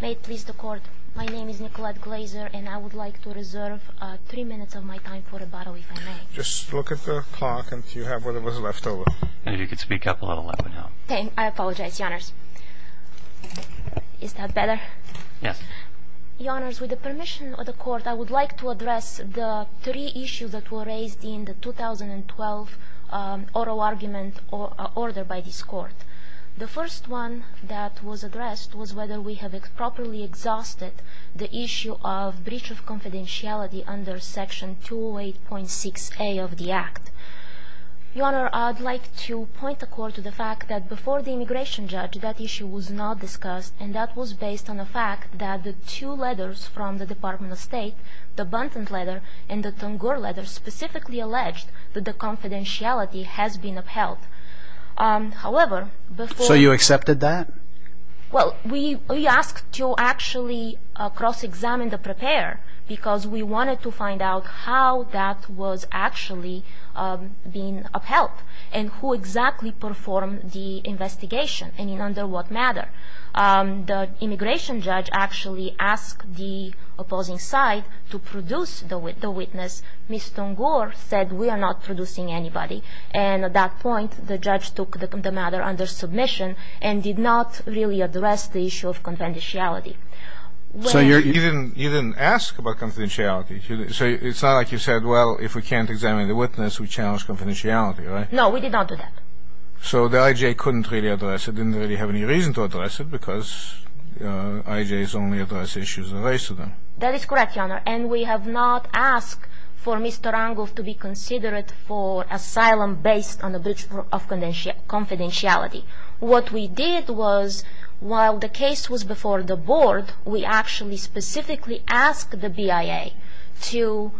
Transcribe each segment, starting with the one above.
May it please the Court, my name is Nicolette Glaser and I would like to reserve three minutes of my time for rebuttal, if I may. Just look at the clock and see if you have whatever is left over. Maybe you could speak up a little and let me know. I apologize, Your Honors. Is that better? Yes. Your Honors, with the permission of the Court, I would like to address the three issues that were raised in the 2012 oral argument ordered by this Court. The first one that was addressed was whether we have properly exhausted the issue of breach of confidentiality under Section 208.6a of the Act. Your Honor, I would like to point the Court to the fact that before the immigration judge, that issue was not discussed, and that was based on the fact that the two letters from the Department of State, the Bunton letter and the Tungur letter, specifically alleged that the confidentiality has been upheld. However... So you accepted that? Well, we asked to actually cross-examine the preparer because we wanted to find out how that was actually being upheld and who exactly performed the investigation and under what matter. The immigration judge actually asked the opposing side to produce the witness. Ms. Tungur said, we are not producing anybody. And at that point, the judge took the matter under submission and did not really address the issue of confidentiality. So you didn't ask about confidentiality? So it's not like you said, well, if we can't examine the witness, we challenge confidentiality, right? No, we did not do that. So the IJ couldn't really address it, didn't really have any reason to address it because IJs only address issues raised to them. That is correct, Your Honor. And we have not asked for Mr. Angul to be considered for asylum based on a breach of confidentiality. What we did was, while the case was before the board, we actually specifically asked the BIA to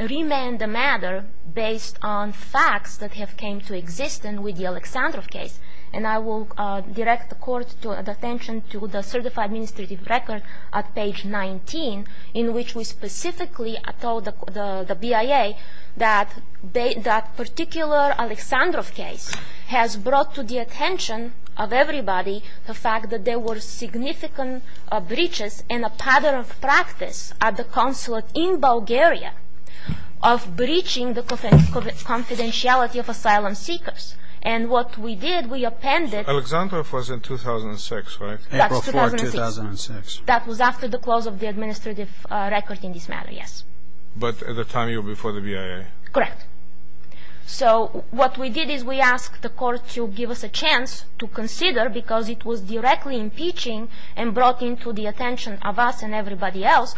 remand the matter based on facts that have come to exist with the Alexandrov case. And I will direct the court's attention to the certified administrative record at page 19, in which we specifically told the BIA that that particular Alexandrov case has brought to the attention of everybody the fact that there were significant breaches in a pattern of practice at the consulate in Bulgaria of breaching the confidentiality of asylum seekers. And what we did, we appended... Alexandrov was in 2006, right? That's 2006. April 4, 2006. That was after the close of the administrative record in this matter, yes. But at the time you were before the BIA. Correct. So what we did is we asked the court to give us a chance to consider, because it was directly impeaching and brought into the attention of us and everybody else,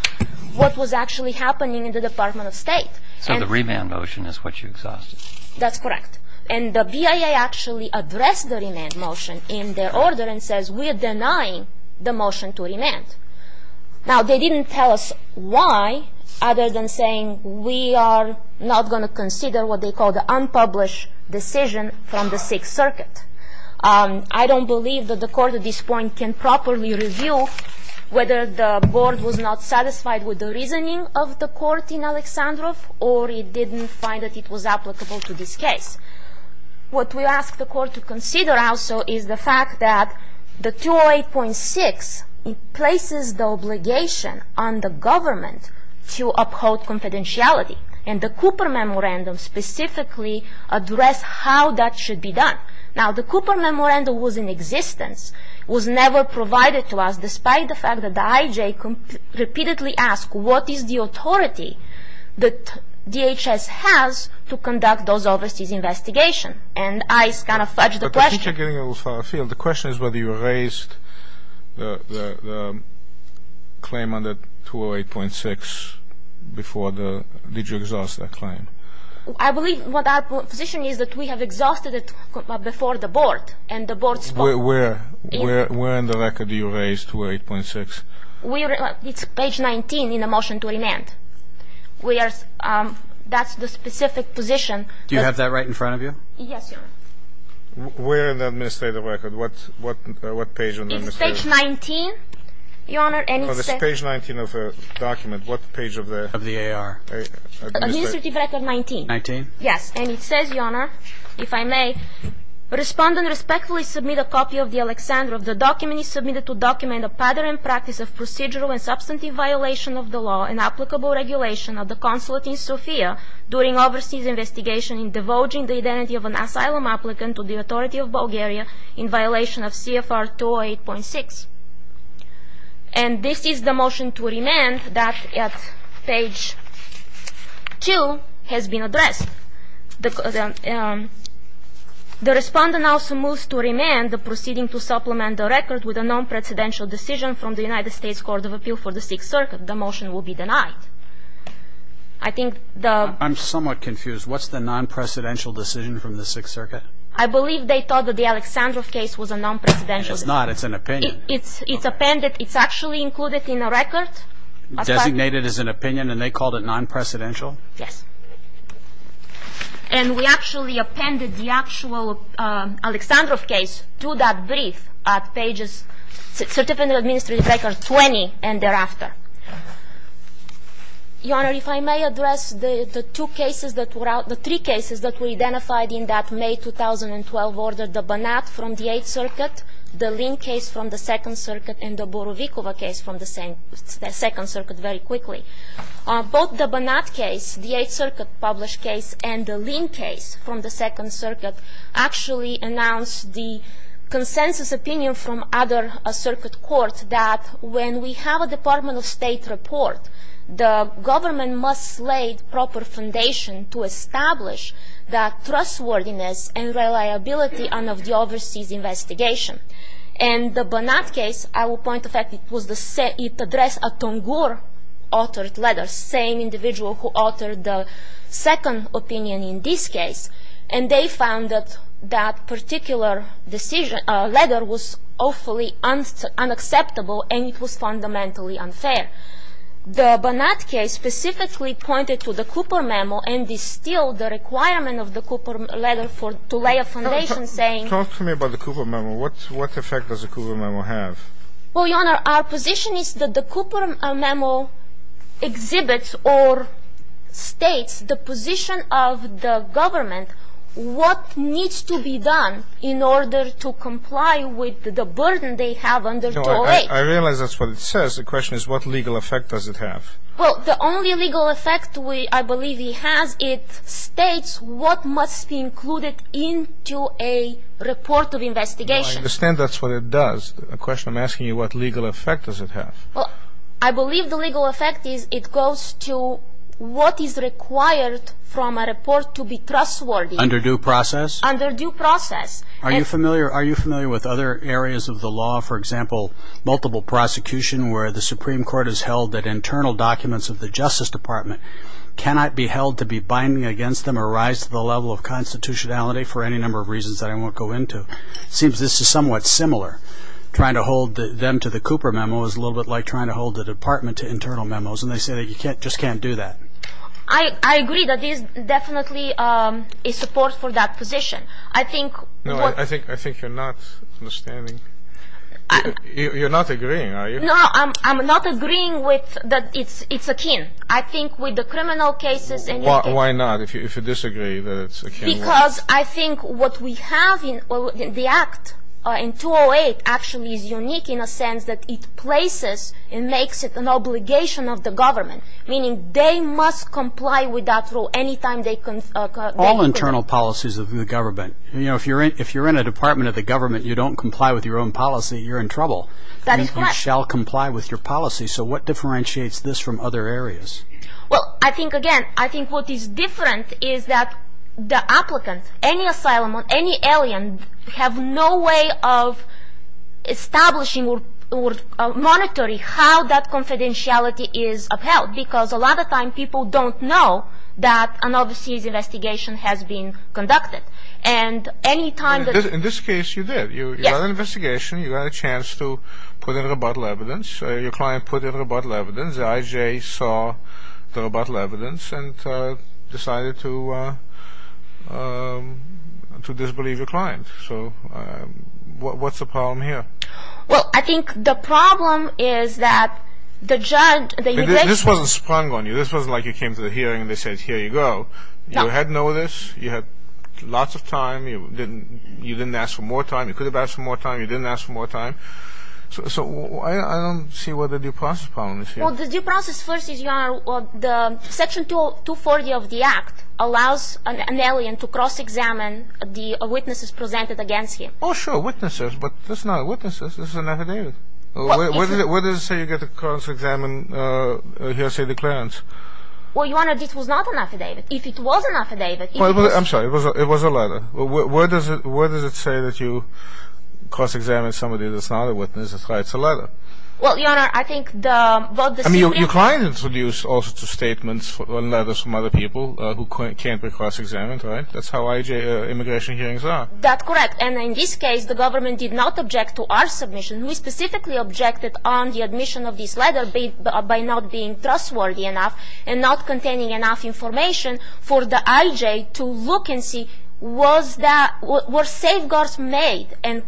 what was actually happening in the Department of State. So the remand motion is what you exhausted. That's correct. And the BIA actually addressed the remand motion in their order and says, we are denying the motion to remand. Now, they didn't tell us why, other than saying, we are not going to consider what they call the unpublished decision from the Sixth Circuit. I don't believe that the court at this point can properly review whether the board was not satisfied with the reasoning of the court in Alexandrov or it didn't find that it was applicable to this case. What we asked the court to consider, also, is the fact that the 208.6 places the obligation on the government to uphold confidentiality. And the Cooper Memorandum specifically addressed how that should be done. Now, the Cooper Memorandum was in existence, was never provided to us despite the fact that the IJ repeatedly asked, what is the authority that DHS has to conduct those overseas investigations? And I kind of fudged the question. I think you're getting a little far afield. The question is whether you raised the claim under 208.6 before the – did you exhaust that claim? I believe what our position is that we have exhausted it before the board and the board spoke. Where in the record do you raise 208.6? It's page 19 in the motion to remand. We are – that's the specific position. Do you have that right in front of you? Yes, Your Honor. Where in the administrative record? What page on the administrative record? It's page 19, Your Honor. Oh, it's page 19 of the document. What page of the? Of the AR. Administrative record 19. 19? And it says, Your Honor, if I may, Respondent respectfully submit a copy of the Alexandrov. The document is submitted to document a pattern and practice of procedural and substantive violation of the law and applicable regulation of the consulate in Sofia during overseas investigation in divulging the identity of an asylum applicant to the authority of Bulgaria in violation of CFR 208.6. And this is the motion to remand that at page 2 has been addressed. The respondent also moves to remand the proceeding to supplement the record with a non-presidential decision from the United States Court of Appeal for the Sixth Circuit. The motion will be denied. I think the – I'm somewhat confused. What's the non-presidential decision from the Sixth Circuit? I believe they thought that the Alexandrov case was a non-presidential decision. It's not. It's an opinion. It's appended. It's actually included in the record. Designated as an opinion and they called it non-presidential? Yes. And we actually appended the actual Alexandrov case to that brief at pages – Certificate of Administrative Records 20 and thereafter. Your Honor, if I may address the two cases that were – the three cases that were identified in that May 2012 order, the Banat from the Eighth Circuit, the Lin case from the Second Circuit, and the Borovikova case from the Second Circuit very quickly. Both the Banat case, the Eighth Circuit published case, and the Lin case from the Second Circuit actually announced the consensus opinion from other circuit court that when we have a Department of State report, the government must lay proper foundation to establish that trustworthiness and reliability of the overseas investigation. And the Banat case, I will point the fact it was the – it addressed a Tungur-authored letter, same individual who authored the second opinion in this case, and they found that that particular decision – letter was awfully unacceptable and it was fundamentally unfair. The Banat case specifically pointed to the Cooper memo and distilled the requirement of the Cooper letter for – to lay a foundation saying – Talk to me about the Cooper memo. What effect does the Cooper memo have? Well, Your Honor, our position is that the Cooper memo exhibits or states the position of the government, what needs to be done in order to comply with the burden they have under 208. I realize that's what it says. The question is what legal effect does it have? Well, the only legal effect we – I believe he has, it states what must be included into a report of investigation. I understand that's what it does. The question I'm asking you, what legal effect does it have? I believe the legal effect is it goes to what is required from a report to be trustworthy. Under due process? Under due process. Are you familiar with other areas of the law, for example, multiple prosecution where the Supreme Court has held that internal documents of the Justice Department cannot be held to be binding against them or rise to the level of constitutionality for any number of reasons that I won't go into. It seems this is somewhat similar. Trying to hold them to the Cooper memo is a little bit like trying to hold the department to internal memos, and they say that you just can't do that. I agree that there is definitely a support for that position. I think what – No, I think you're not understanding. You're not agreeing, are you? No, I'm not agreeing that it's akin. I think with the criminal cases and – Why not? If you disagree that it's akin. Because I think what we have in the act, in 208, actually is unique in a sense that it places and makes it an obligation of the government, meaning they must comply with that rule any time they – All internal policies of the government. If you're in a department of the government, you don't comply with your own policy, you're in trouble. That is correct. You shall comply with your policy. So what differentiates this from other areas? Well, I think, again, I think what is different is that the applicants, any asylum, any alien have no way of establishing or monitoring how that confidentiality is upheld because a lot of time people don't know that an overseas investigation has been conducted. And any time that – In this case, you did. Yes. You got an investigation. You got a chance to put in rebuttal evidence. Your client put in rebuttal evidence. The IJ saw the rebuttal evidence and decided to disbelieve your client. So what's the problem here? Well, I think the problem is that the judge – This wasn't sprung on you. This wasn't like you came to the hearing and they said, here you go. You had notice. You had lots of time. You didn't ask for more time. You could have asked for more time. You didn't ask for more time. So I don't see what the due process problem is here. Well, the due process first is, Your Honor, the Section 240 of the Act allows an alien to cross-examine the witnesses presented against him. Oh, sure, witnesses. But that's not witnesses. That's an affidavit. Where does it say you get to cross-examine here, say, the clients? Well, Your Honor, this was not an affidavit. If it was an affidavit – I'm sorry. It was a letter. Where does it say that you cross-examine somebody that's not a witness? That's why it's a letter. Well, Your Honor, I think the – I mean, your client introduced all sorts of statements or letters from other people who can't be cross-examined, right? That's how IJ immigration hearings are. That's correct. And in this case, the government did not object to our submission. We specifically objected on the admission of this letter by not being trustworthy enough and not containing enough information for the IJ to look and see was that – were safeguards made and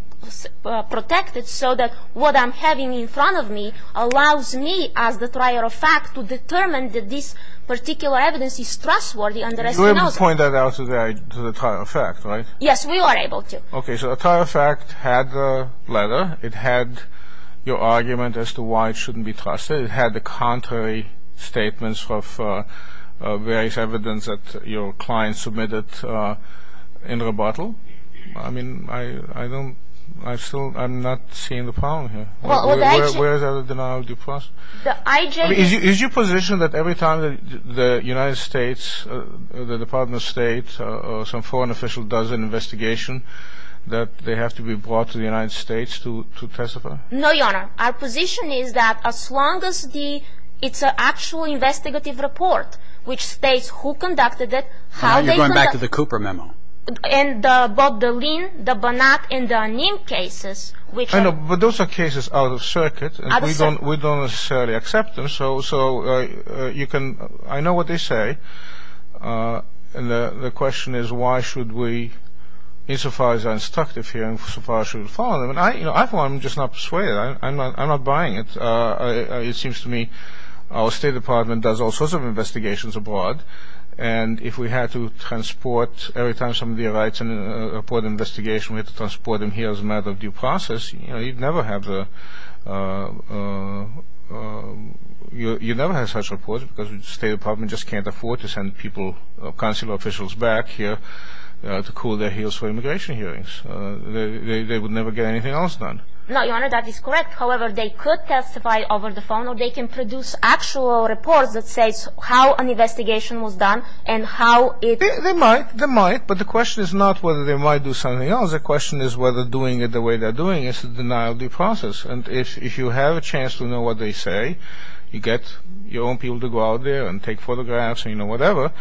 protected so that what I'm having in front of me allows me, as the trial of fact, to determine that this particular evidence is trustworthy and the rest he knows. You were able to point that out to the trial of fact, right? Yes, we were able to. Okay. So the trial of fact had the letter. It had your argument as to why it shouldn't be trusted. It had the contrary statements of various evidence that your client submitted in rebuttal. I mean, I don't – I still – I'm not seeing the problem here. Well, the IJ – Where is the denial of due process? The IJ – Is your position that every time the United States, the Department of State, or some foreign official does an investigation that they have to be brought to the United States to testify? No, Your Honor. Our position is that as long as the – it's an actual investigative report which states who conducted it, how they conducted it – You're going back to the Cooper memo. And both the Lynn, the Bonat, and the Niem cases, which are – But those are cases out of circuit. We don't necessarily accept them. So you can – I know what they say. And the question is why should we – insofar as they're instructive here, insofar as we should follow them. Well, I, for one, am just not persuaded. I'm not buying it. It seems to me our State Department does all sorts of investigations abroad, and if we had to transport every time somebody writes in a report investigation, we have to transport them here as a matter of due process, you'd never have the – you'd never have such a report because the State Department just can't afford to send people, consular officials back here to cool their heels for immigration hearings. They would never get anything else done. No, Your Honor, that is correct. However, they could testify over the phone, or they can produce actual reports that say how an investigation was done and how it – They might. They might. But the question is not whether they might do something else. The question is whether doing it the way they're doing it is a denial of due process. And if you have a chance to know what they say, you get your own people to go out there and take photographs or, you know, whatever,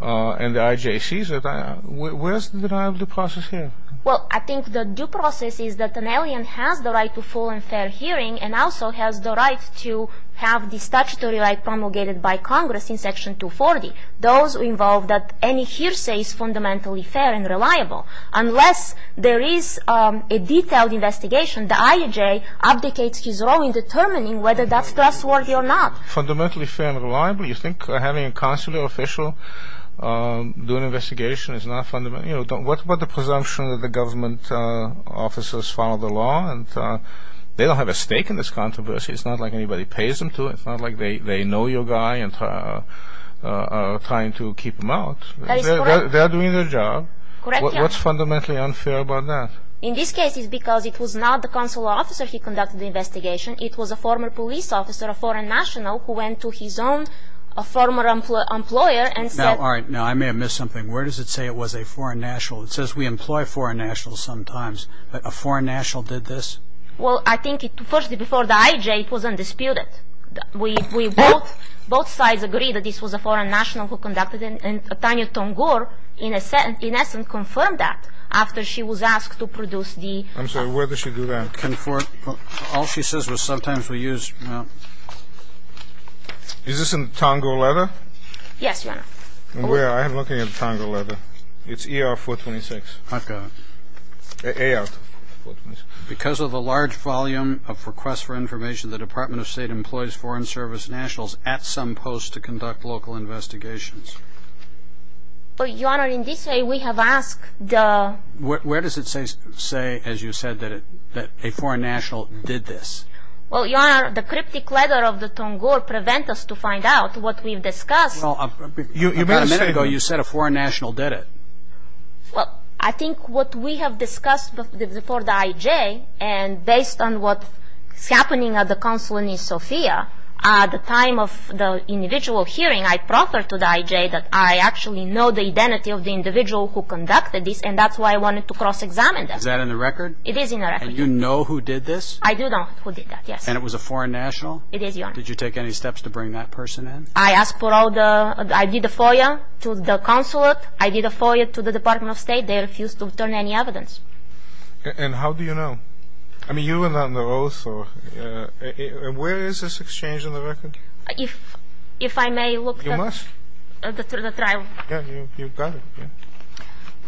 and the IJ sees it, where's the denial of due process here? Well, I think the due process is that an alien has the right to full and fair hearing and also has the right to have the statutory right promulgated by Congress in Section 240. Those involve that any hearsay is fundamentally fair and reliable. Unless there is a detailed investigation, the IJ abdicates his role in determining whether that's trustworthy or not. Fundamentally fair and reliable? You think having a consular official do an investigation is not fundamental? You know, what about the presumption that the government officers follow the law and they don't have a stake in this controversy. It's not like anybody pays them to. It's not like they know your guy and are trying to keep him out. They're doing their job. What's fundamentally unfair about that? In this case, it's because it was not the consular officer who conducted the investigation. It was a former police officer, a foreign national, who went to his own former employer and said – Now, all right. Now, I may have missed something. Where does it say it was a foreign national? It says we employ foreign nationals sometimes. A foreign national did this? Well, I think, firstly, before the IJ, it was undisputed. We both sides agreed that this was a foreign national who conducted it, and Tanya Tongor, in essence, confirmed that after she was asked to produce the – I'm sorry. Where does she do that? All she says was sometimes we use – Is this in the Tongo letter? Yes, Your Honor. I'm looking at the Tongo letter. It's ER-426. I've got it. AR-426. Because of the large volume of requests for information, the Department of State employs foreign service nationals at some post to conduct local investigations. But, Your Honor, in this way, we have asked the – Where does it say, as you said, that a foreign national did this? Well, Your Honor, the cryptic letter of the Tongor prevent us to find out what we've discussed. Well, about a minute ago, you said a foreign national did it. Well, I think what we have discussed before the IJ, and based on what's happening at the Consulate in Sofia, at the time of the individual hearing, I proffered to the IJ that I actually know the identity of the individual who conducted this, and that's why I wanted to cross-examine that. Is that in the record? It is in the record. And you know who did this? I do know who did that, yes. And it was a foreign national? It is, Your Honor. Did you take any steps to bring that person in? I asked for all the – I did a FOIA to the Consulate. I did a FOIA to the Department of State. They refused to return any evidence. And how do you know? I mean, you were not in the oath. Where is this exchange in the record? If I may look at the trial. You must. Yeah, you've got it.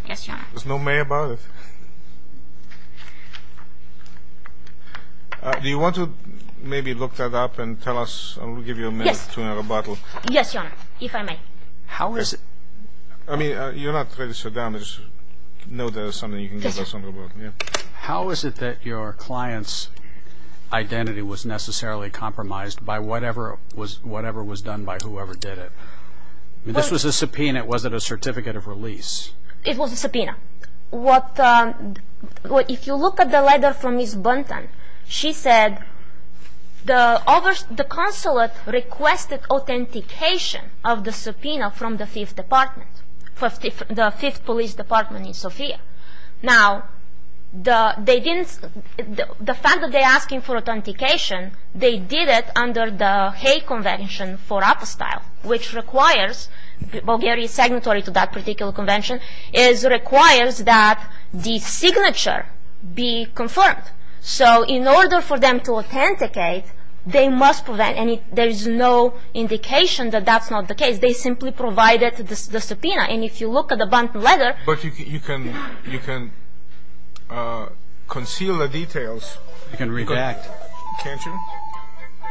Yes, Your Honor. There's no may about it. Do you want to maybe look that up and tell us – I'll give you a minute to have a bottle. Yes, Your Honor, if I may. How is it – I mean, you're not ready to sit down and just know there's something you can give us on the board. How is it that your client's identity was necessarily compromised by whatever was done by whoever did it? I mean, this was a subpoena. It wasn't a certificate of release. It was a subpoena. If you look at the letter from Ms. Bunton, she said the consulate requested authentication of the subpoena from the Fifth Police Department in Sofia. Now, the fact that they're asking for authentication, they did it under the Hague Convention for Apostyle, which requires – Bulgaria is signatory to that particular convention – requires that the signature be confirmed. So in order for them to authenticate, they must – and there's no indication that that's not the case. They simply provided the subpoena. And if you look at the Bunton letter – But you can conceal the details. You can redact, can't you?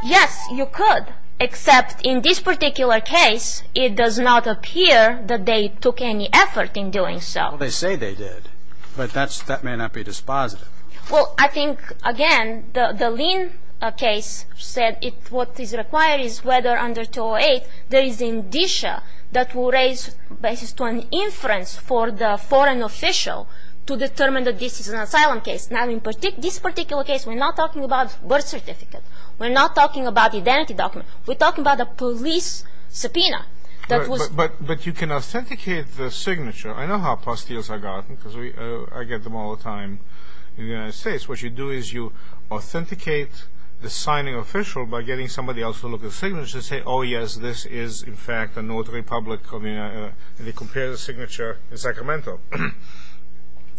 Yes, you could, except in this particular case, it does not appear that they took any effort in doing so. Well, they say they did, but that may not be dispositive. Well, I think, again, the Lynn case said what is required is whether under 208, there is indicia that will raise basis to an inference for the foreign official to determine that this is an asylum case. Now, in this particular case, we're not talking about birth certificate. We're not talking about identity document. We're talking about a police subpoena that was – But you can authenticate the signature. I know how apostyles are gotten because I get them all the time in the United States. What you do is you authenticate the signing official by getting somebody else to look at the signature and say, oh, yes, this is, in fact, a notary public. They compare the signature in Sacramento.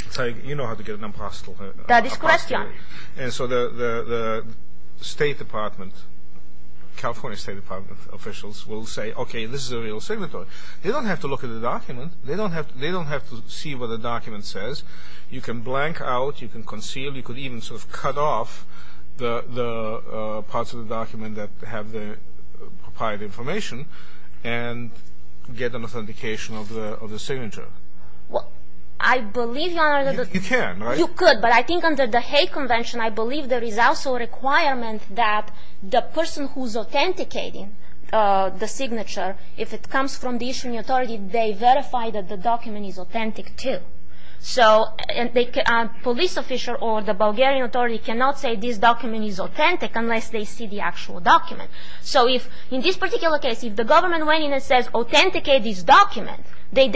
It's like you know how to get an apostyle. That is question. And so the State Department, California State Department officials will say, okay, this is a real signatory. They don't have to look at the document. They don't have to see what the document says. You can blank out. You can conceal. You could even sort of cut off the parts of the document that have the proprietary information and get an authentication of the signature. Well, I believe, Your Honor, that the – You can, right? You could, but I think under the Hague Convention, I believe there is also a requirement that the person who's authenticating the signature, if it comes from the issuing authority, they verify that the document is authentic, too. So a police official or the Bulgarian authority cannot say this document is authentic unless they see the actual document. So if, in this particular case, if the government went in and says authenticate this document, they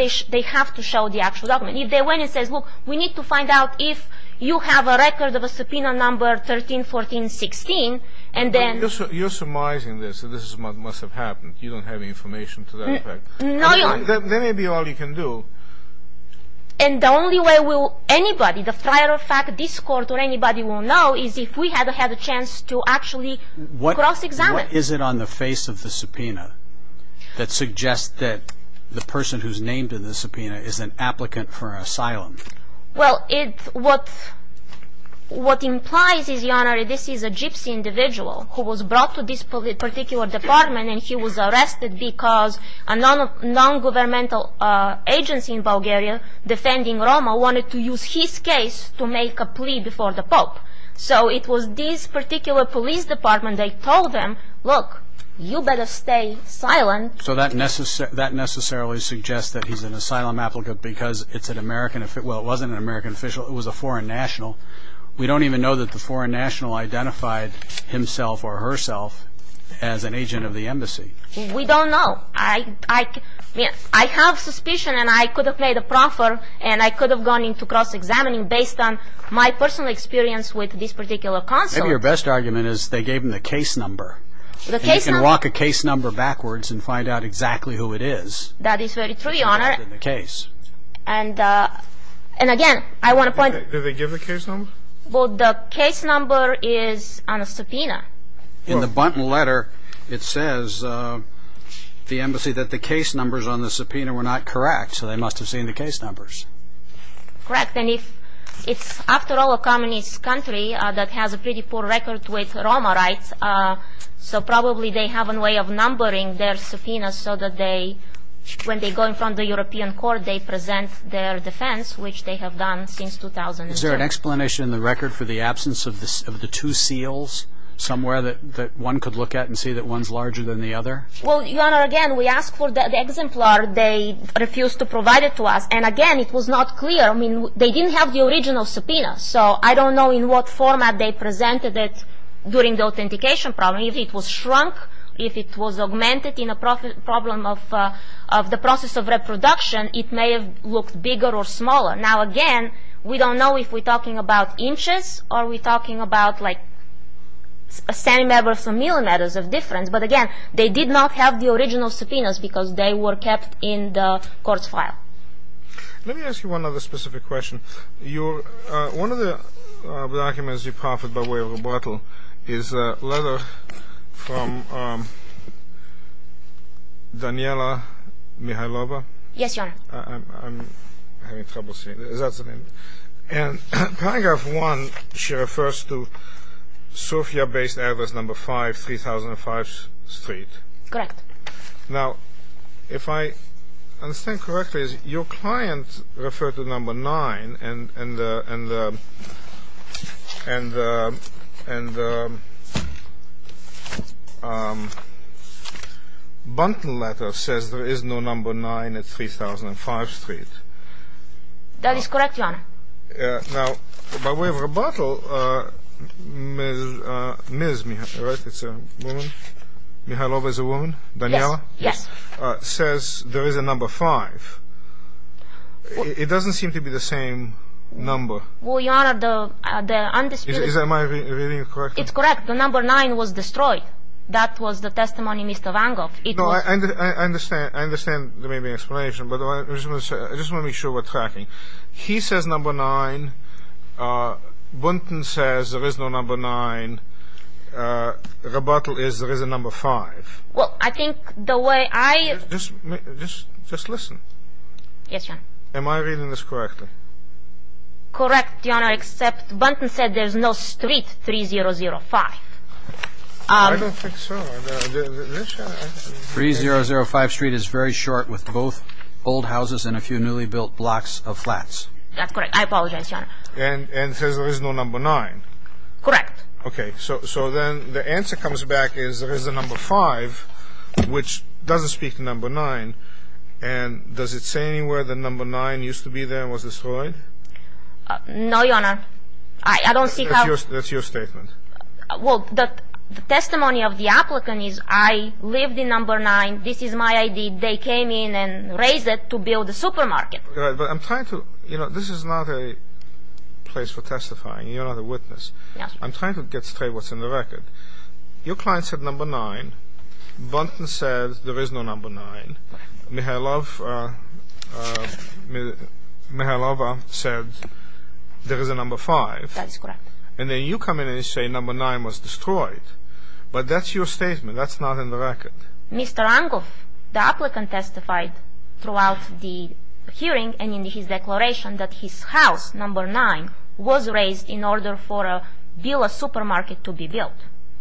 have to show the actual document. If they went and said, look, we need to find out if you have a record of a subpoena number 13-14-16, and then – You're surmising this. This must have happened. You don't have any information to that effect. No, Your Honor. That may be all you can do. And the only way anybody, the prior fact, this court or anybody will know is if we had had a chance to actually cross-examine. What is it on the face of the subpoena that suggests that the person who's named in the subpoena is an applicant for asylum? Well, what implies is, Your Honor, this is a gypsy individual who was brought to this particular department and he was arrested because a non-governmental agency in Bulgaria, defending Roma, wanted to use his case to make a plea before the Pope. So it was this particular police department they told them, look, you better stay silent. So that necessarily suggests that he's an asylum applicant because it's an American – well, it wasn't an American official, it was a foreign national. We don't even know that the foreign national identified himself or herself as an agent of the embassy. We don't know. I mean, I have suspicion and I could have made a proffer and I could have gone into cross-examining based on my personal experience with this particular consul. Maybe your best argument is they gave him the case number. The case number. And you can walk a case number backwards and find out exactly who it is. That is very true, Your Honor. And again, I want to point out – Did they give the case number? Well, the case number is on a subpoena. In the letter it says the embassy that the case numbers on the subpoena were not correct, so they must have seen the case numbers. Correct. And it's, after all, a communist country that has a pretty poor record with Roma rights, so probably they have a way of numbering their subpoenas so that they – Is there an explanation in the record for the absence of the two seals somewhere that one could look at and see that one's larger than the other? Well, Your Honor, again, we asked for the exemplar. They refused to provide it to us, and again, it was not clear. I mean, they didn't have the original subpoena, so I don't know in what format they presented it during the authentication problem. If it was shrunk, if it was augmented in a problem of the process of reproduction, it may have looked bigger or smaller. Now, again, we don't know if we're talking about inches or we're talking about, like, centimeters or millimeters of difference. But, again, they did not have the original subpoenas because they were kept in the court's file. Let me ask you one other specific question. One of the documents you proffered by way of rebuttal is a letter from Daniela Mihailova. Yes, Your Honor. I'm having trouble seeing. Is that the name? And paragraph 1, she refers to Sofia-based address number 5, 3005 Street. Correct. Now, if I understand correctly, your client referred to number 9, and the bundle letter says there is no number 9 at 3005 Street. That is correct, Your Honor. Now, by way of rebuttal, Ms. Mihailova is a woman, Daniela? Yes. Says there is a number 5. It doesn't seem to be the same number. Well, Your Honor, the undisputed- Am I reading correctly? It's correct. The number 9 was destroyed. That was the testimony, Mr. Vangoff. No, I understand the explanation, but I just want to make sure we're tracking. He says number 9. Buntin says there is no number 9. Rebuttal is there is a number 5. Well, I think the way I- Just listen. Yes, Your Honor. Am I reading this correctly? Correct, Your Honor, except Buntin said there's no Street 3005. I don't think so. 3005 Street is very short with both old houses and a few newly built blocks of flats. That's correct. I apologize, Your Honor. And says there is no number 9. Correct. Okay. So then the answer comes back is there is a number 5, which doesn't speak to number 9. And does it say anywhere that number 9 used to be there and was destroyed? No, Your Honor. I don't see how- That's your statement. Well, the testimony of the applicant is I lived in number 9. This is my ID. They came in and raised it to build a supermarket. But I'm trying to- You know, this is not a place for testifying. You're not a witness. Yes, Your Honor. I'm trying to get straight what's in the record. Your client said number 9. Buntin said there is no number 9. Correct. Mikhailova said there is a number 5. That is correct. And then you come in and say number 9 was destroyed. But that's your statement. That's not in the record. Mr. Lankov, the applicant testified throughout the hearing and in his declaration that his house, number 9, was raised in order for a supermarket to be built.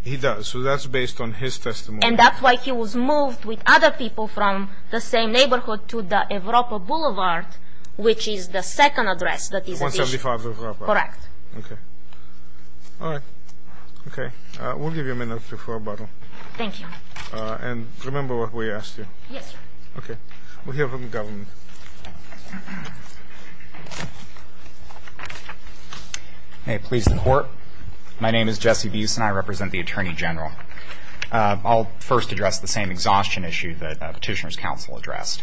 He does. So that's based on his testimony. And that's why he was moved with other people from the same neighborhood to the Evropa Boulevard, which is the second address that is- 175 Evropa. Correct. Okay. All right. Okay. We'll give you a minute for rebuttal. Thank you. And remember what we asked you. Yes, sir. Okay. We'll hear from the government. May it please the Court. My name is Jesse Buse and I represent the Attorney General. I'll first address the same exhaustion issue that Petitioner's counsel addressed.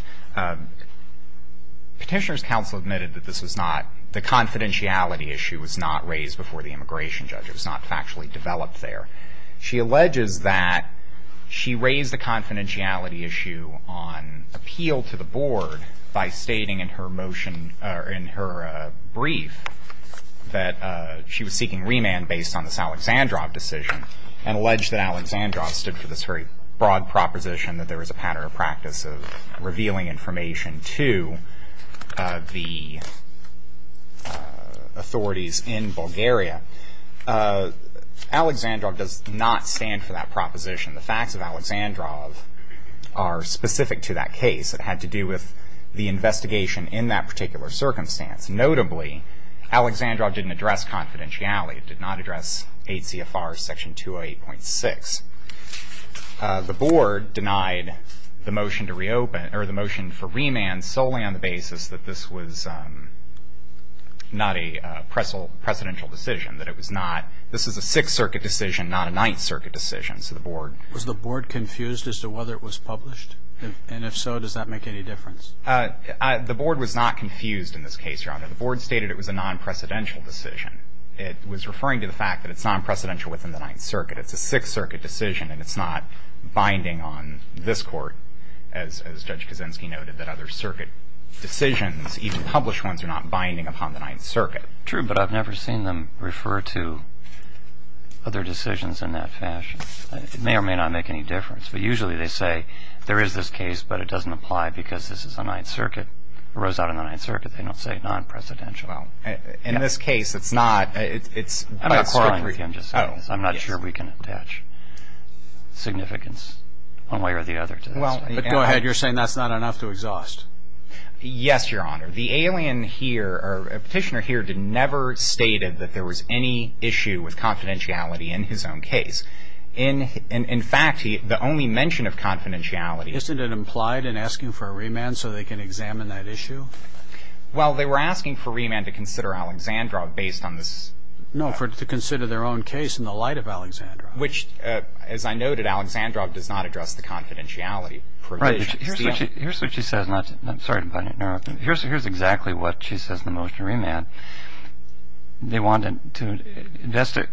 Petitioner's counsel admitted that this was not the confidentiality issue was not raised before the immigration judge. It was not factually developed there. She alleges that she raised the confidentiality issue on appeal to the board by stating in her motion- in her brief that she was seeking remand based on this Alexandrov decision and alleged that Alexandrov stood for this very broad proposition that there was a pattern of practice of revealing information to the authorities in Bulgaria. Alexandrov does not stand for that proposition. The facts of Alexandrov are specific to that case. It had to do with the investigation in that particular circumstance. Notably, Alexandrov didn't address confidentiality. It did not address 8 CFR Section 208.6. The board denied the motion to reopen or the motion for remand solely on the basis that this was not a presidential decision, that it was not-this is a Sixth Circuit decision, not a Ninth Circuit decision. So the board- Was the board confused as to whether it was published? And if so, does that make any difference? The board was not confused in this case, Your Honor. The board stated it was a non-precedential decision. It was referring to the fact that it's non-precedential within the Ninth Circuit. It's a Sixth Circuit decision, and it's not binding on this Court, as Judge Kaczynski noted, that other Circuit decisions, even published ones, are not binding upon the Ninth Circuit. True, but I've never seen them refer to other decisions in that fashion. It may or may not make any difference. But usually they say there is this case, but it doesn't apply because this is a Ninth Circuit. It arose out of the Ninth Circuit. They don't say non-precedential. Well, in this case, it's not- I'm not quarreling with you. I'm just saying this. I'm not sure we can attach significance one way or the other to this. But go ahead. You're saying that's not enough to exhaust. Yes, Your Honor. The alien here, or Petitioner here, never stated that there was any issue with confidentiality in his own case. In fact, the only mention of confidentiality- Isn't it implied in asking for a remand so they can examine that issue? Well, they were asking for remand to consider Alexandrov based on this- No, to consider their own case in the light of Alexandrov. Which, as I noted, Alexandrov does not address the confidentiality provisions. Right. Here's what she says. I'm sorry to interrupt. Here's exactly what she says in the motion to remand. They wanted to-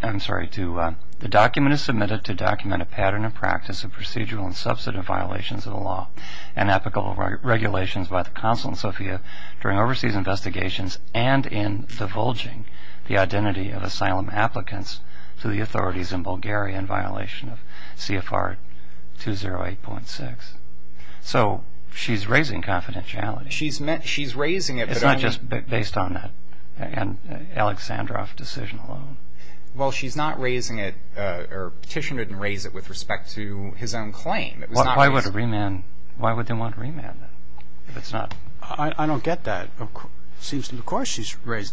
I'm sorry. The document is submitted to document a pattern and practice of procedural and substantive violations of the law and ethical regulations by the Consulate in Sofia during overseas investigations and in divulging the identity of asylum applicants to the authorities in Bulgaria in violation of CFR 208.6. So she's raising confidentiality. She's raising it- It's not just based on that Alexandrov decision alone. Well, she's not raising it, or Petitioner didn't raise it with respect to his own claim. Why would they want remand then if it's not- I don't get that. Of course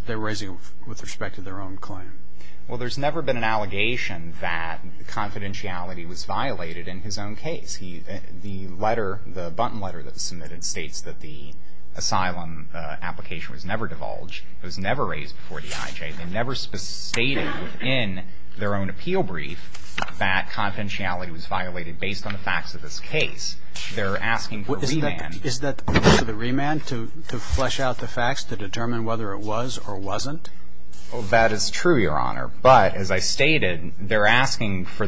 they're raising it with respect to their own claim. Well, there's never been an allegation that confidentiality was violated in his own case. The letter, the button letter that was submitted states that the asylum application was never divulged, was never raised before DIJ, and never stated in their own appeal brief that confidentiality was violated based on the facts of this case. They're asking for remand. Is that the remand to flesh out the facts to determine whether it was or wasn't? That is true, Your Honor. But as I stated, they're asking for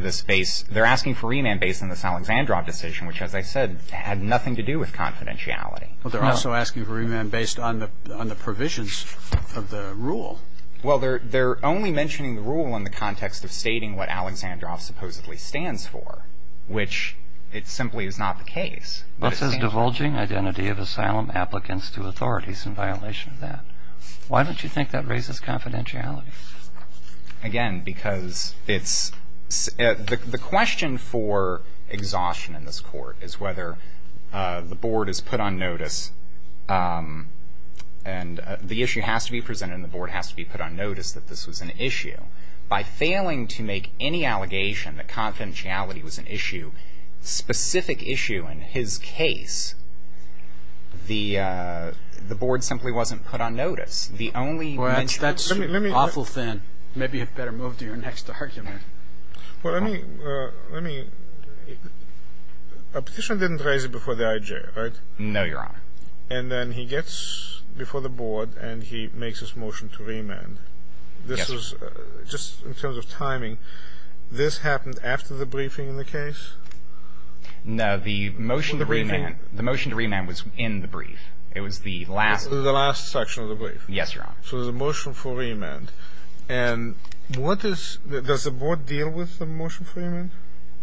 remand based on this Alexandrov decision, which, as I said, had nothing to do with confidentiality. Well, they're also asking for remand based on the provisions of the rule. Well, they're only mentioning the rule in the context of stating what Alexandrov supposedly stands for, which it simply is not the case. What says divulging identity of asylum applicants to authorities in violation of that? Why don't you think that raises confidentiality? Again, because it's – the question for exhaustion in this court is whether the board is put on notice and the issue has to be presented and the board has to be put on notice that this was an issue. By failing to make any allegation that confidentiality was an issue, specific issue in his case, the board simply wasn't put on notice. The only – Well, that's an awful thing. Maybe you'd better move to your next argument. Well, let me – a petition didn't raise it before the IJ, right? No, Your Honor. And then he gets before the board and he makes his motion to remand. Yes. Just in terms of timing, this happened after the briefing in the case? No. The motion to remand. The motion to remand was in the brief. It was the last – The last section of the brief. Yes, Your Honor. So there's a motion for remand. And what is – does the board deal with the motion for remand?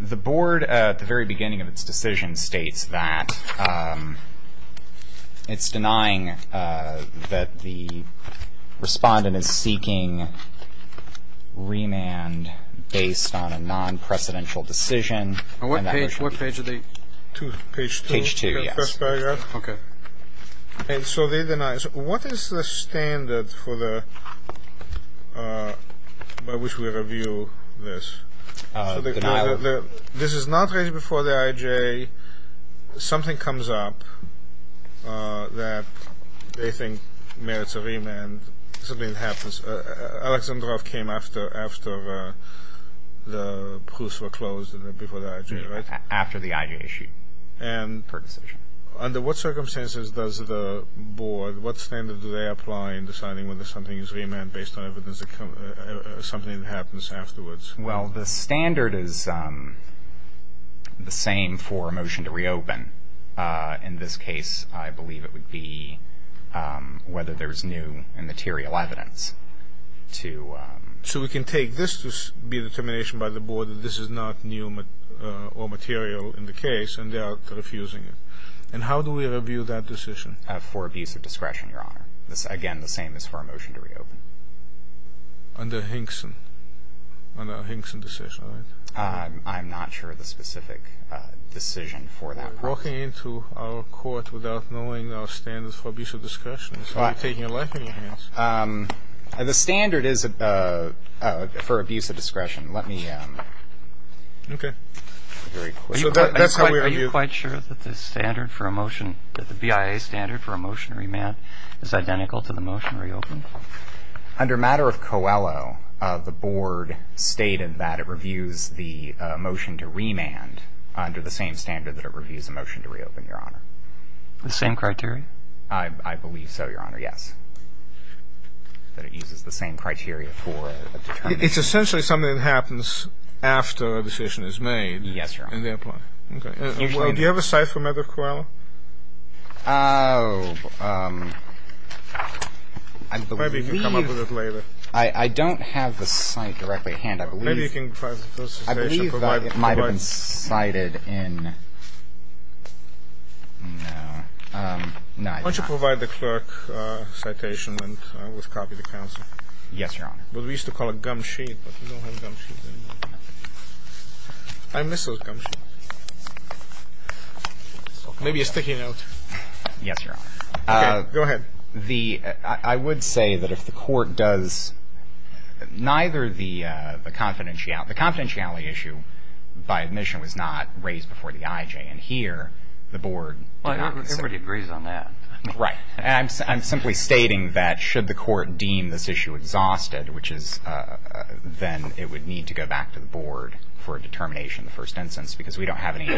The board, at the very beginning of its decision, states that it's denying that the respondent is seeking remand based on a non-precedential decision. On what page? What page are they? Page 2. Page 2, yes. Okay. And so they deny it. So what is the standard for the – by which we review this? Denial. This is not raised before the IJ. Something comes up that they think merits a remand. Something happens. Alexandrov came after the proofs were closed before the IJ, right? After the IJ issue. And – Per decision. Under what circumstances does the board – what standard do they apply in deciding whether something is remand based on evidence that comes – something that happens afterwards? Well, the standard is the same for a motion to reopen. In this case, I believe it would be whether there's new and material evidence to – So we can take this to be a determination by the board that this is not new or material in the case, and they are refusing it. And how do we review that decision? For abuse of discretion, Your Honor. Again, the same as for a motion to reopen. Under Hinkson. Under a Hinkson decision, right? I'm not sure of the specific decision for that purpose. You're walking into our court without knowing our standards for abuse of discretion. It's like taking a life in your hands. The standard is for abuse of discretion. Let me – Okay. Very quickly. So that's how we review it. Does the BIA standard for a motion to remand is identical to the motion to reopen? Under matter of Coelho, the board stated that it reviews the motion to remand under the same standard that it reviews a motion to reopen, Your Honor. The same criteria? I believe so, Your Honor, yes. That it uses the same criteria for a determination. It's essentially something that happens after a decision is made. Yes, Your Honor. In their plan. Okay. Do you have a cite for matter of Coelho? Oh, I believe – Maybe you can come up with it later. I don't have the cite directly at hand. I believe – Maybe you can provide the first citation. I believe that it might have been cited in – no. Why don't you provide the clerk citation and we'll copy the counsel. Yes, Your Honor. What we used to call a gum sheet, but we don't have gum sheets anymore. I missed a gum sheet. Maybe it's sticking out. Yes, Your Honor. Okay. Go ahead. The – I would say that if the court does – neither the confidentiality issue by admission was not raised before the IJ. And here the board – Everybody agrees on that. Right. I'm simply stating that should the court deem this issue exhausted, which is then it would need to go back to the board for a determination in the first instance because we don't have any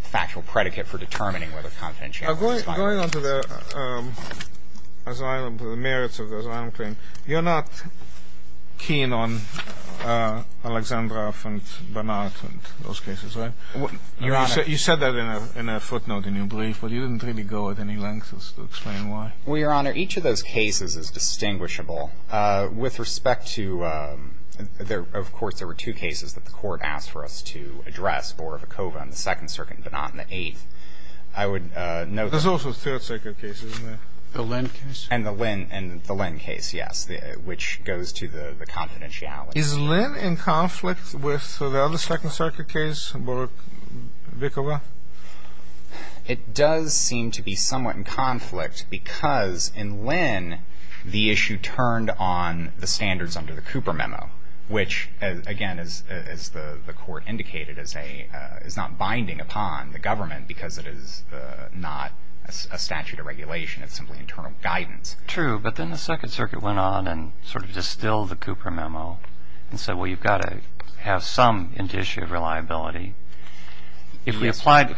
factual predicate for determining whether confidentiality is – Going on to the merits of the asylum claim, you're not keen on Alexandrov and Barnard and those cases, right? Your Honor – You said that in a footnote in your brief, but you didn't really go at any length to explain why. Well, Your Honor, each of those cases is distinguishable. With respect to – of course, there were two cases that the court asked for us to address, Borovikova and the Second Circuit, but not in the eighth. I would note that – There's also Third Circuit cases, isn't there? The Lynn case? And the Lynn case, yes, which goes to the confidentiality. Is Lynn in conflict with the other Second Circuit case, Borovikova? It does seem to be somewhat in conflict because in Lynn, the issue turned on the standards under the Cooper Memo, which, again, as the court indicated, is not binding upon the government because it is not a statute of regulation. It's simply internal guidance. That's true, but then the Second Circuit went on and sort of distilled the Cooper Memo and said, well, you've got to have some indicia of reliability. If we applied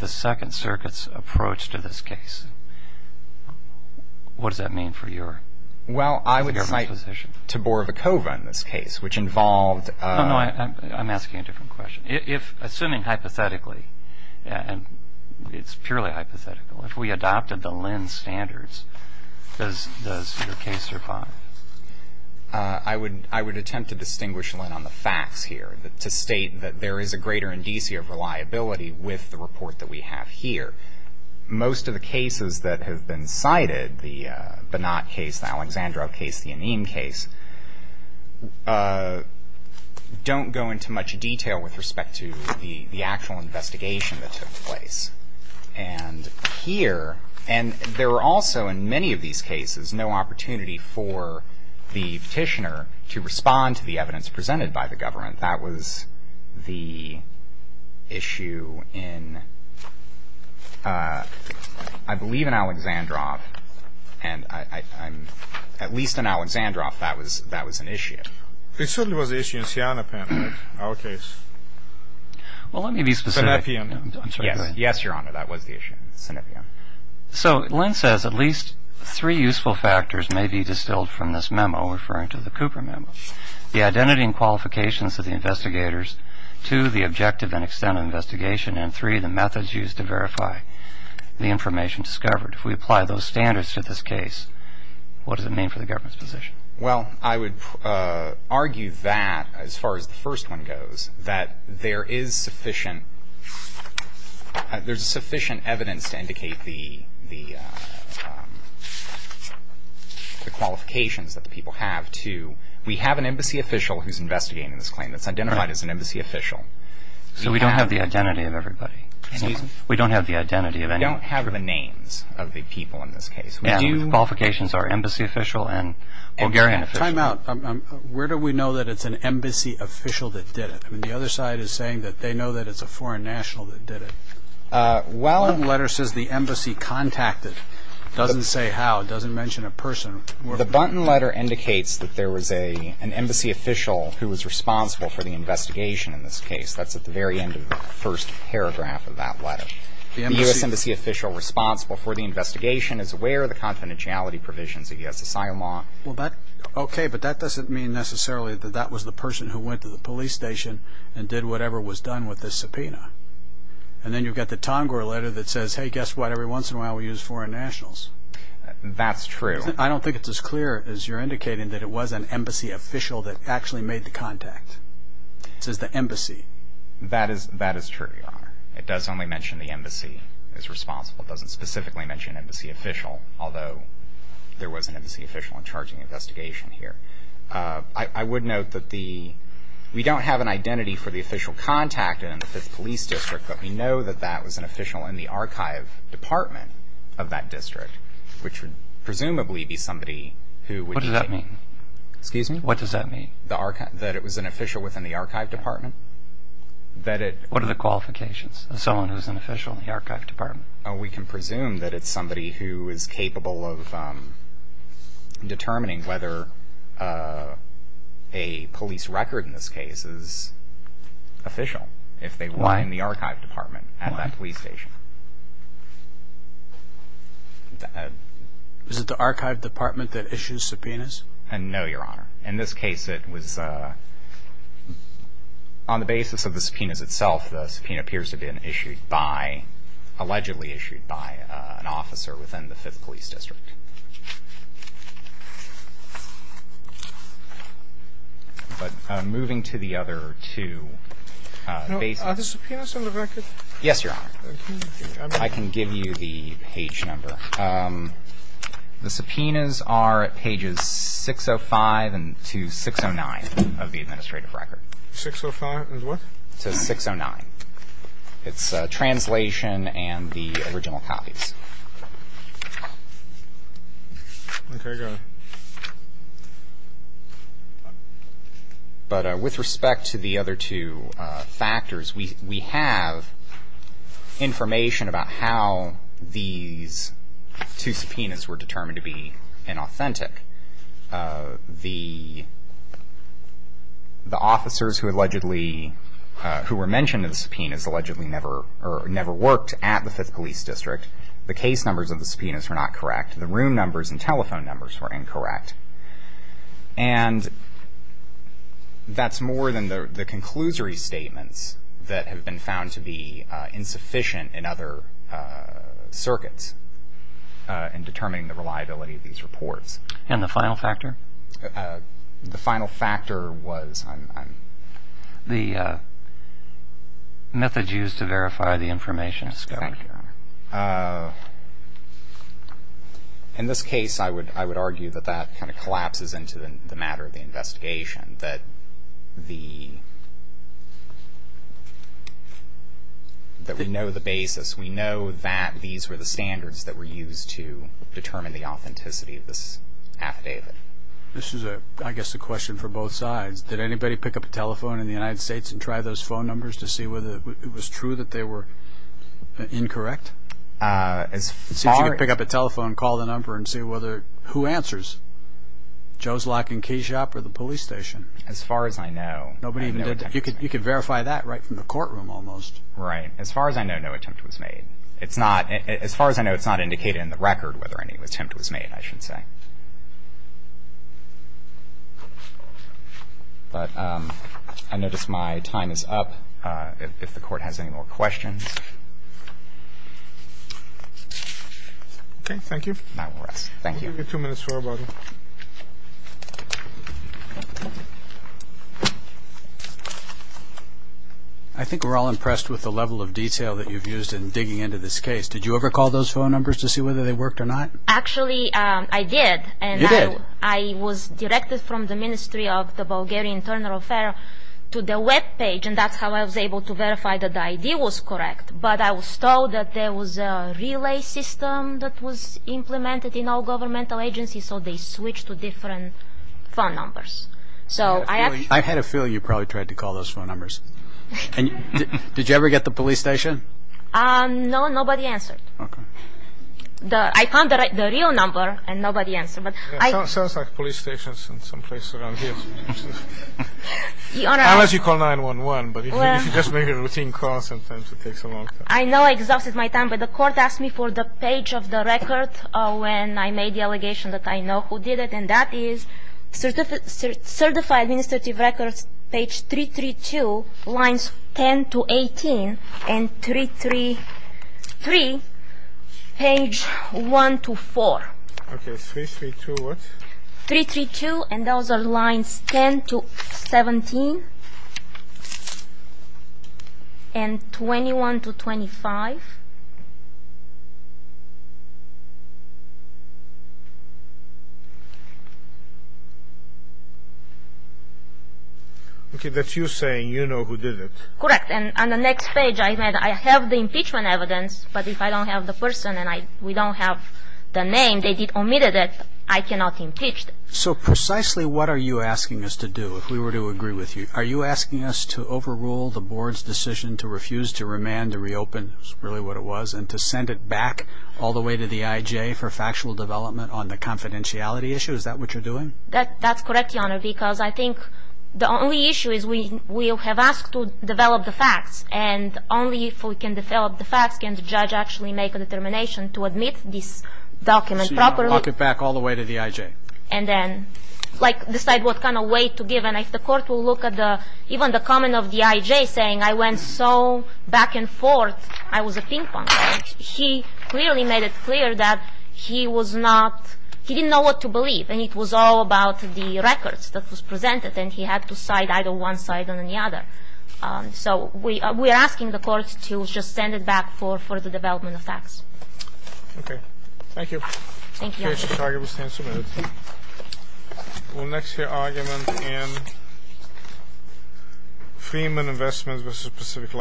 the Second Circuit's approach to this case, what does that mean for your position? Well, I would cite to Borovikova in this case, which involved – No, no, I'm asking a different question. Assuming hypothetically, and it's purely hypothetical, if we adopted the Lynn standards, does your case survive? I would attempt to distinguish Lynn on the facts here, to state that there is a greater indicia of reliability with the report that we have here. Most of the cases that have been cited, the Bonat case, the Alexandrov case, the Anim case, don't go into much detail with respect to the actual investigation that took place. And here – and there were also, in many of these cases, no opportunity for the petitioner to respond to the evidence presented by the government. That was the issue in, I believe, in Alexandrov. And at least in Alexandrov, that was an issue. It certainly was an issue in Sianapan, right, our case. Well, let me be specific. Yes, Your Honor, that was the issue in Sianapan. So Lynn says at least three useful factors may be distilled from this memo referring to the Cooper memo. The identity and qualifications of the investigators, two, the objective and extent of the investigation, and three, the methods used to verify the information discovered. If we apply those standards to this case, what does it mean for the government's position? Well, I would argue that, as far as the first one goes, that there is sufficient – there's sufficient evidence to indicate the qualifications that the people have to – we have an embassy official who's investigating this claim. It's identified as an embassy official. So we don't have the identity of everybody? Excuse me? We don't have the identity of anybody? We don't have the names of the people in this case. The qualifications are embassy official and Bulgarian official. Time out. Where do we know that it's an embassy official that did it? I mean, the other side is saying that they know that it's a foreign national that did it. Well – The letter says the embassy contacted. It doesn't say how. It doesn't mention a person. The Bunton letter indicates that there was an embassy official who was responsible for the investigation in this case. That's at the very end of the first paragraph of that letter. The U.S. embassy official responsible for the investigation is aware of the confidentiality provisions of U.S. asylum law. Okay, but that doesn't mean necessarily that that was the person who went to the police station and did whatever was done with this subpoena. And then you've got the Tonger letter that says, hey, guess what, every once in a while we use foreign nationals. That's true. I don't think it's as clear as you're indicating that it was an embassy official that actually made the contact. It says the embassy. That is true, Your Honor. It does only mention the embassy is responsible. It doesn't specifically mention an embassy official, although there was an embassy official in charge of the investigation here. I would note that we don't have an identity for the official contacted in the 5th Police District, but we know that that was an official in the archive department of that district, which would presumably be somebody who would – What does that mean? Excuse me? What does that mean? That it was an official within the archive department. What are the qualifications of someone who's an official in the archive department? We can presume that it's somebody who is capable of determining whether a police record in this case is official if they were in the archive department at that police station. Is it the archive department that issues subpoenas? No, Your Honor. In this case, it was on the basis of the subpoenas itself. The subpoena appears to have been issued by – allegedly issued by an officer within the 5th Police District. But moving to the other two bases. Are the subpoenas on the record? Yes, Your Honor. I can give you the page number. The subpoenas are at pages 605 to 609 of the administrative record. 605 to what? To 609. It's translation and the original copies. Okay. Got it. But with respect to the other two factors, we have information about how these two subpoenas were determined to be inauthentic. The officers who allegedly – who were mentioned in the subpoenas allegedly never worked at the 5th Police District. The case numbers of the subpoenas were not correct. The room numbers and telephone numbers were incorrect. And that's more than the – the conclusory statements that have been found to be insufficient in other circuits in determining the reliability of these reports. And the final factor? The final factor was – Exactly, Your Honor. In this case, I would argue that that kind of collapses into the matter of the investigation, that the – that we know the basis. We know that these were the standards that were used to determine the authenticity of this affidavit. This is, I guess, a question for both sides. Did anybody pick up a telephone in the United States and try those phone numbers to see whether it was true that they were incorrect? As far as – Let's see if you can pick up a telephone, call the number, and see whether – who answers. Joe's Lock and Key Shop or the police station? As far as I know, no attempt was made. Nobody even did – you could verify that right from the courtroom almost. Right. As far as I know, no attempt was made. It's not – as far as I know, it's not indicated in the record whether any attempt was made, I should say. But I notice my time is up. If the Court has any more questions. Okay. Thank you. And I will rest. Thank you. We'll give you two minutes for rebuttal. I think we're all impressed with the level of detail that you've used in digging into this case. Did you ever call those phone numbers to see whether they worked or not? Actually, I did. You did? I was directed from the Ministry of the Bulgarian Internal Affairs to the webpage, and that's how I was able to verify that the idea was correct. But I was told that there was a relay system that was implemented in all governmental agencies, so they switched to different phone numbers. So I actually – I had a feeling you probably tried to call those phone numbers. And did you ever get the police station? No, nobody answered. Okay. I found the real number, and nobody answered. Sounds like police stations in some place around here. Unless you call 911, but if you just make a routine call, sometimes it takes a long time. I know I exhausted my time, but the Court asked me for the page of the record when I made the allegation that I know who did it, and that is Certified Administrative Records, page 332, lines 10 to 18, and 333, page 1 to 4. Okay. 332, what? 332, and those are lines 10 to 17, and 21 to 25. Okay, that's you saying you know who did it. Correct. And on the next page, I have the impeachment evidence, but if I don't have the person and we don't have the name, they omitted it, I cannot impeach them. So precisely what are you asking us to do, if we were to agree with you? Are you asking us to overrule the Board's decision to refuse to remand, to reopen, is really what it was, and to send it back all the way to the IJ for factual development on the confidentiality issue? Is that what you're doing? That's correct, Your Honor, because I think the only issue is we have asked to develop the facts, and only if we can develop the facts can the judge actually make a determination to admit this document properly. So you want to walk it back all the way to the IJ? And then decide what kind of weight to give, and if the court will look at even the comment of the IJ saying, I went so back and forth, I was a ping-pong player. He clearly made it clear that he was not, he didn't know what to believe, and it was all about the records that was presented, and he had to side either one side or the other. So we are asking the court to just send it back for further development of facts. Okay. Thank you. Thank you, Your Honor. The case is argued. We'll stand some minutes. We'll next hear argument in Freeman Investments v. Pacific Light.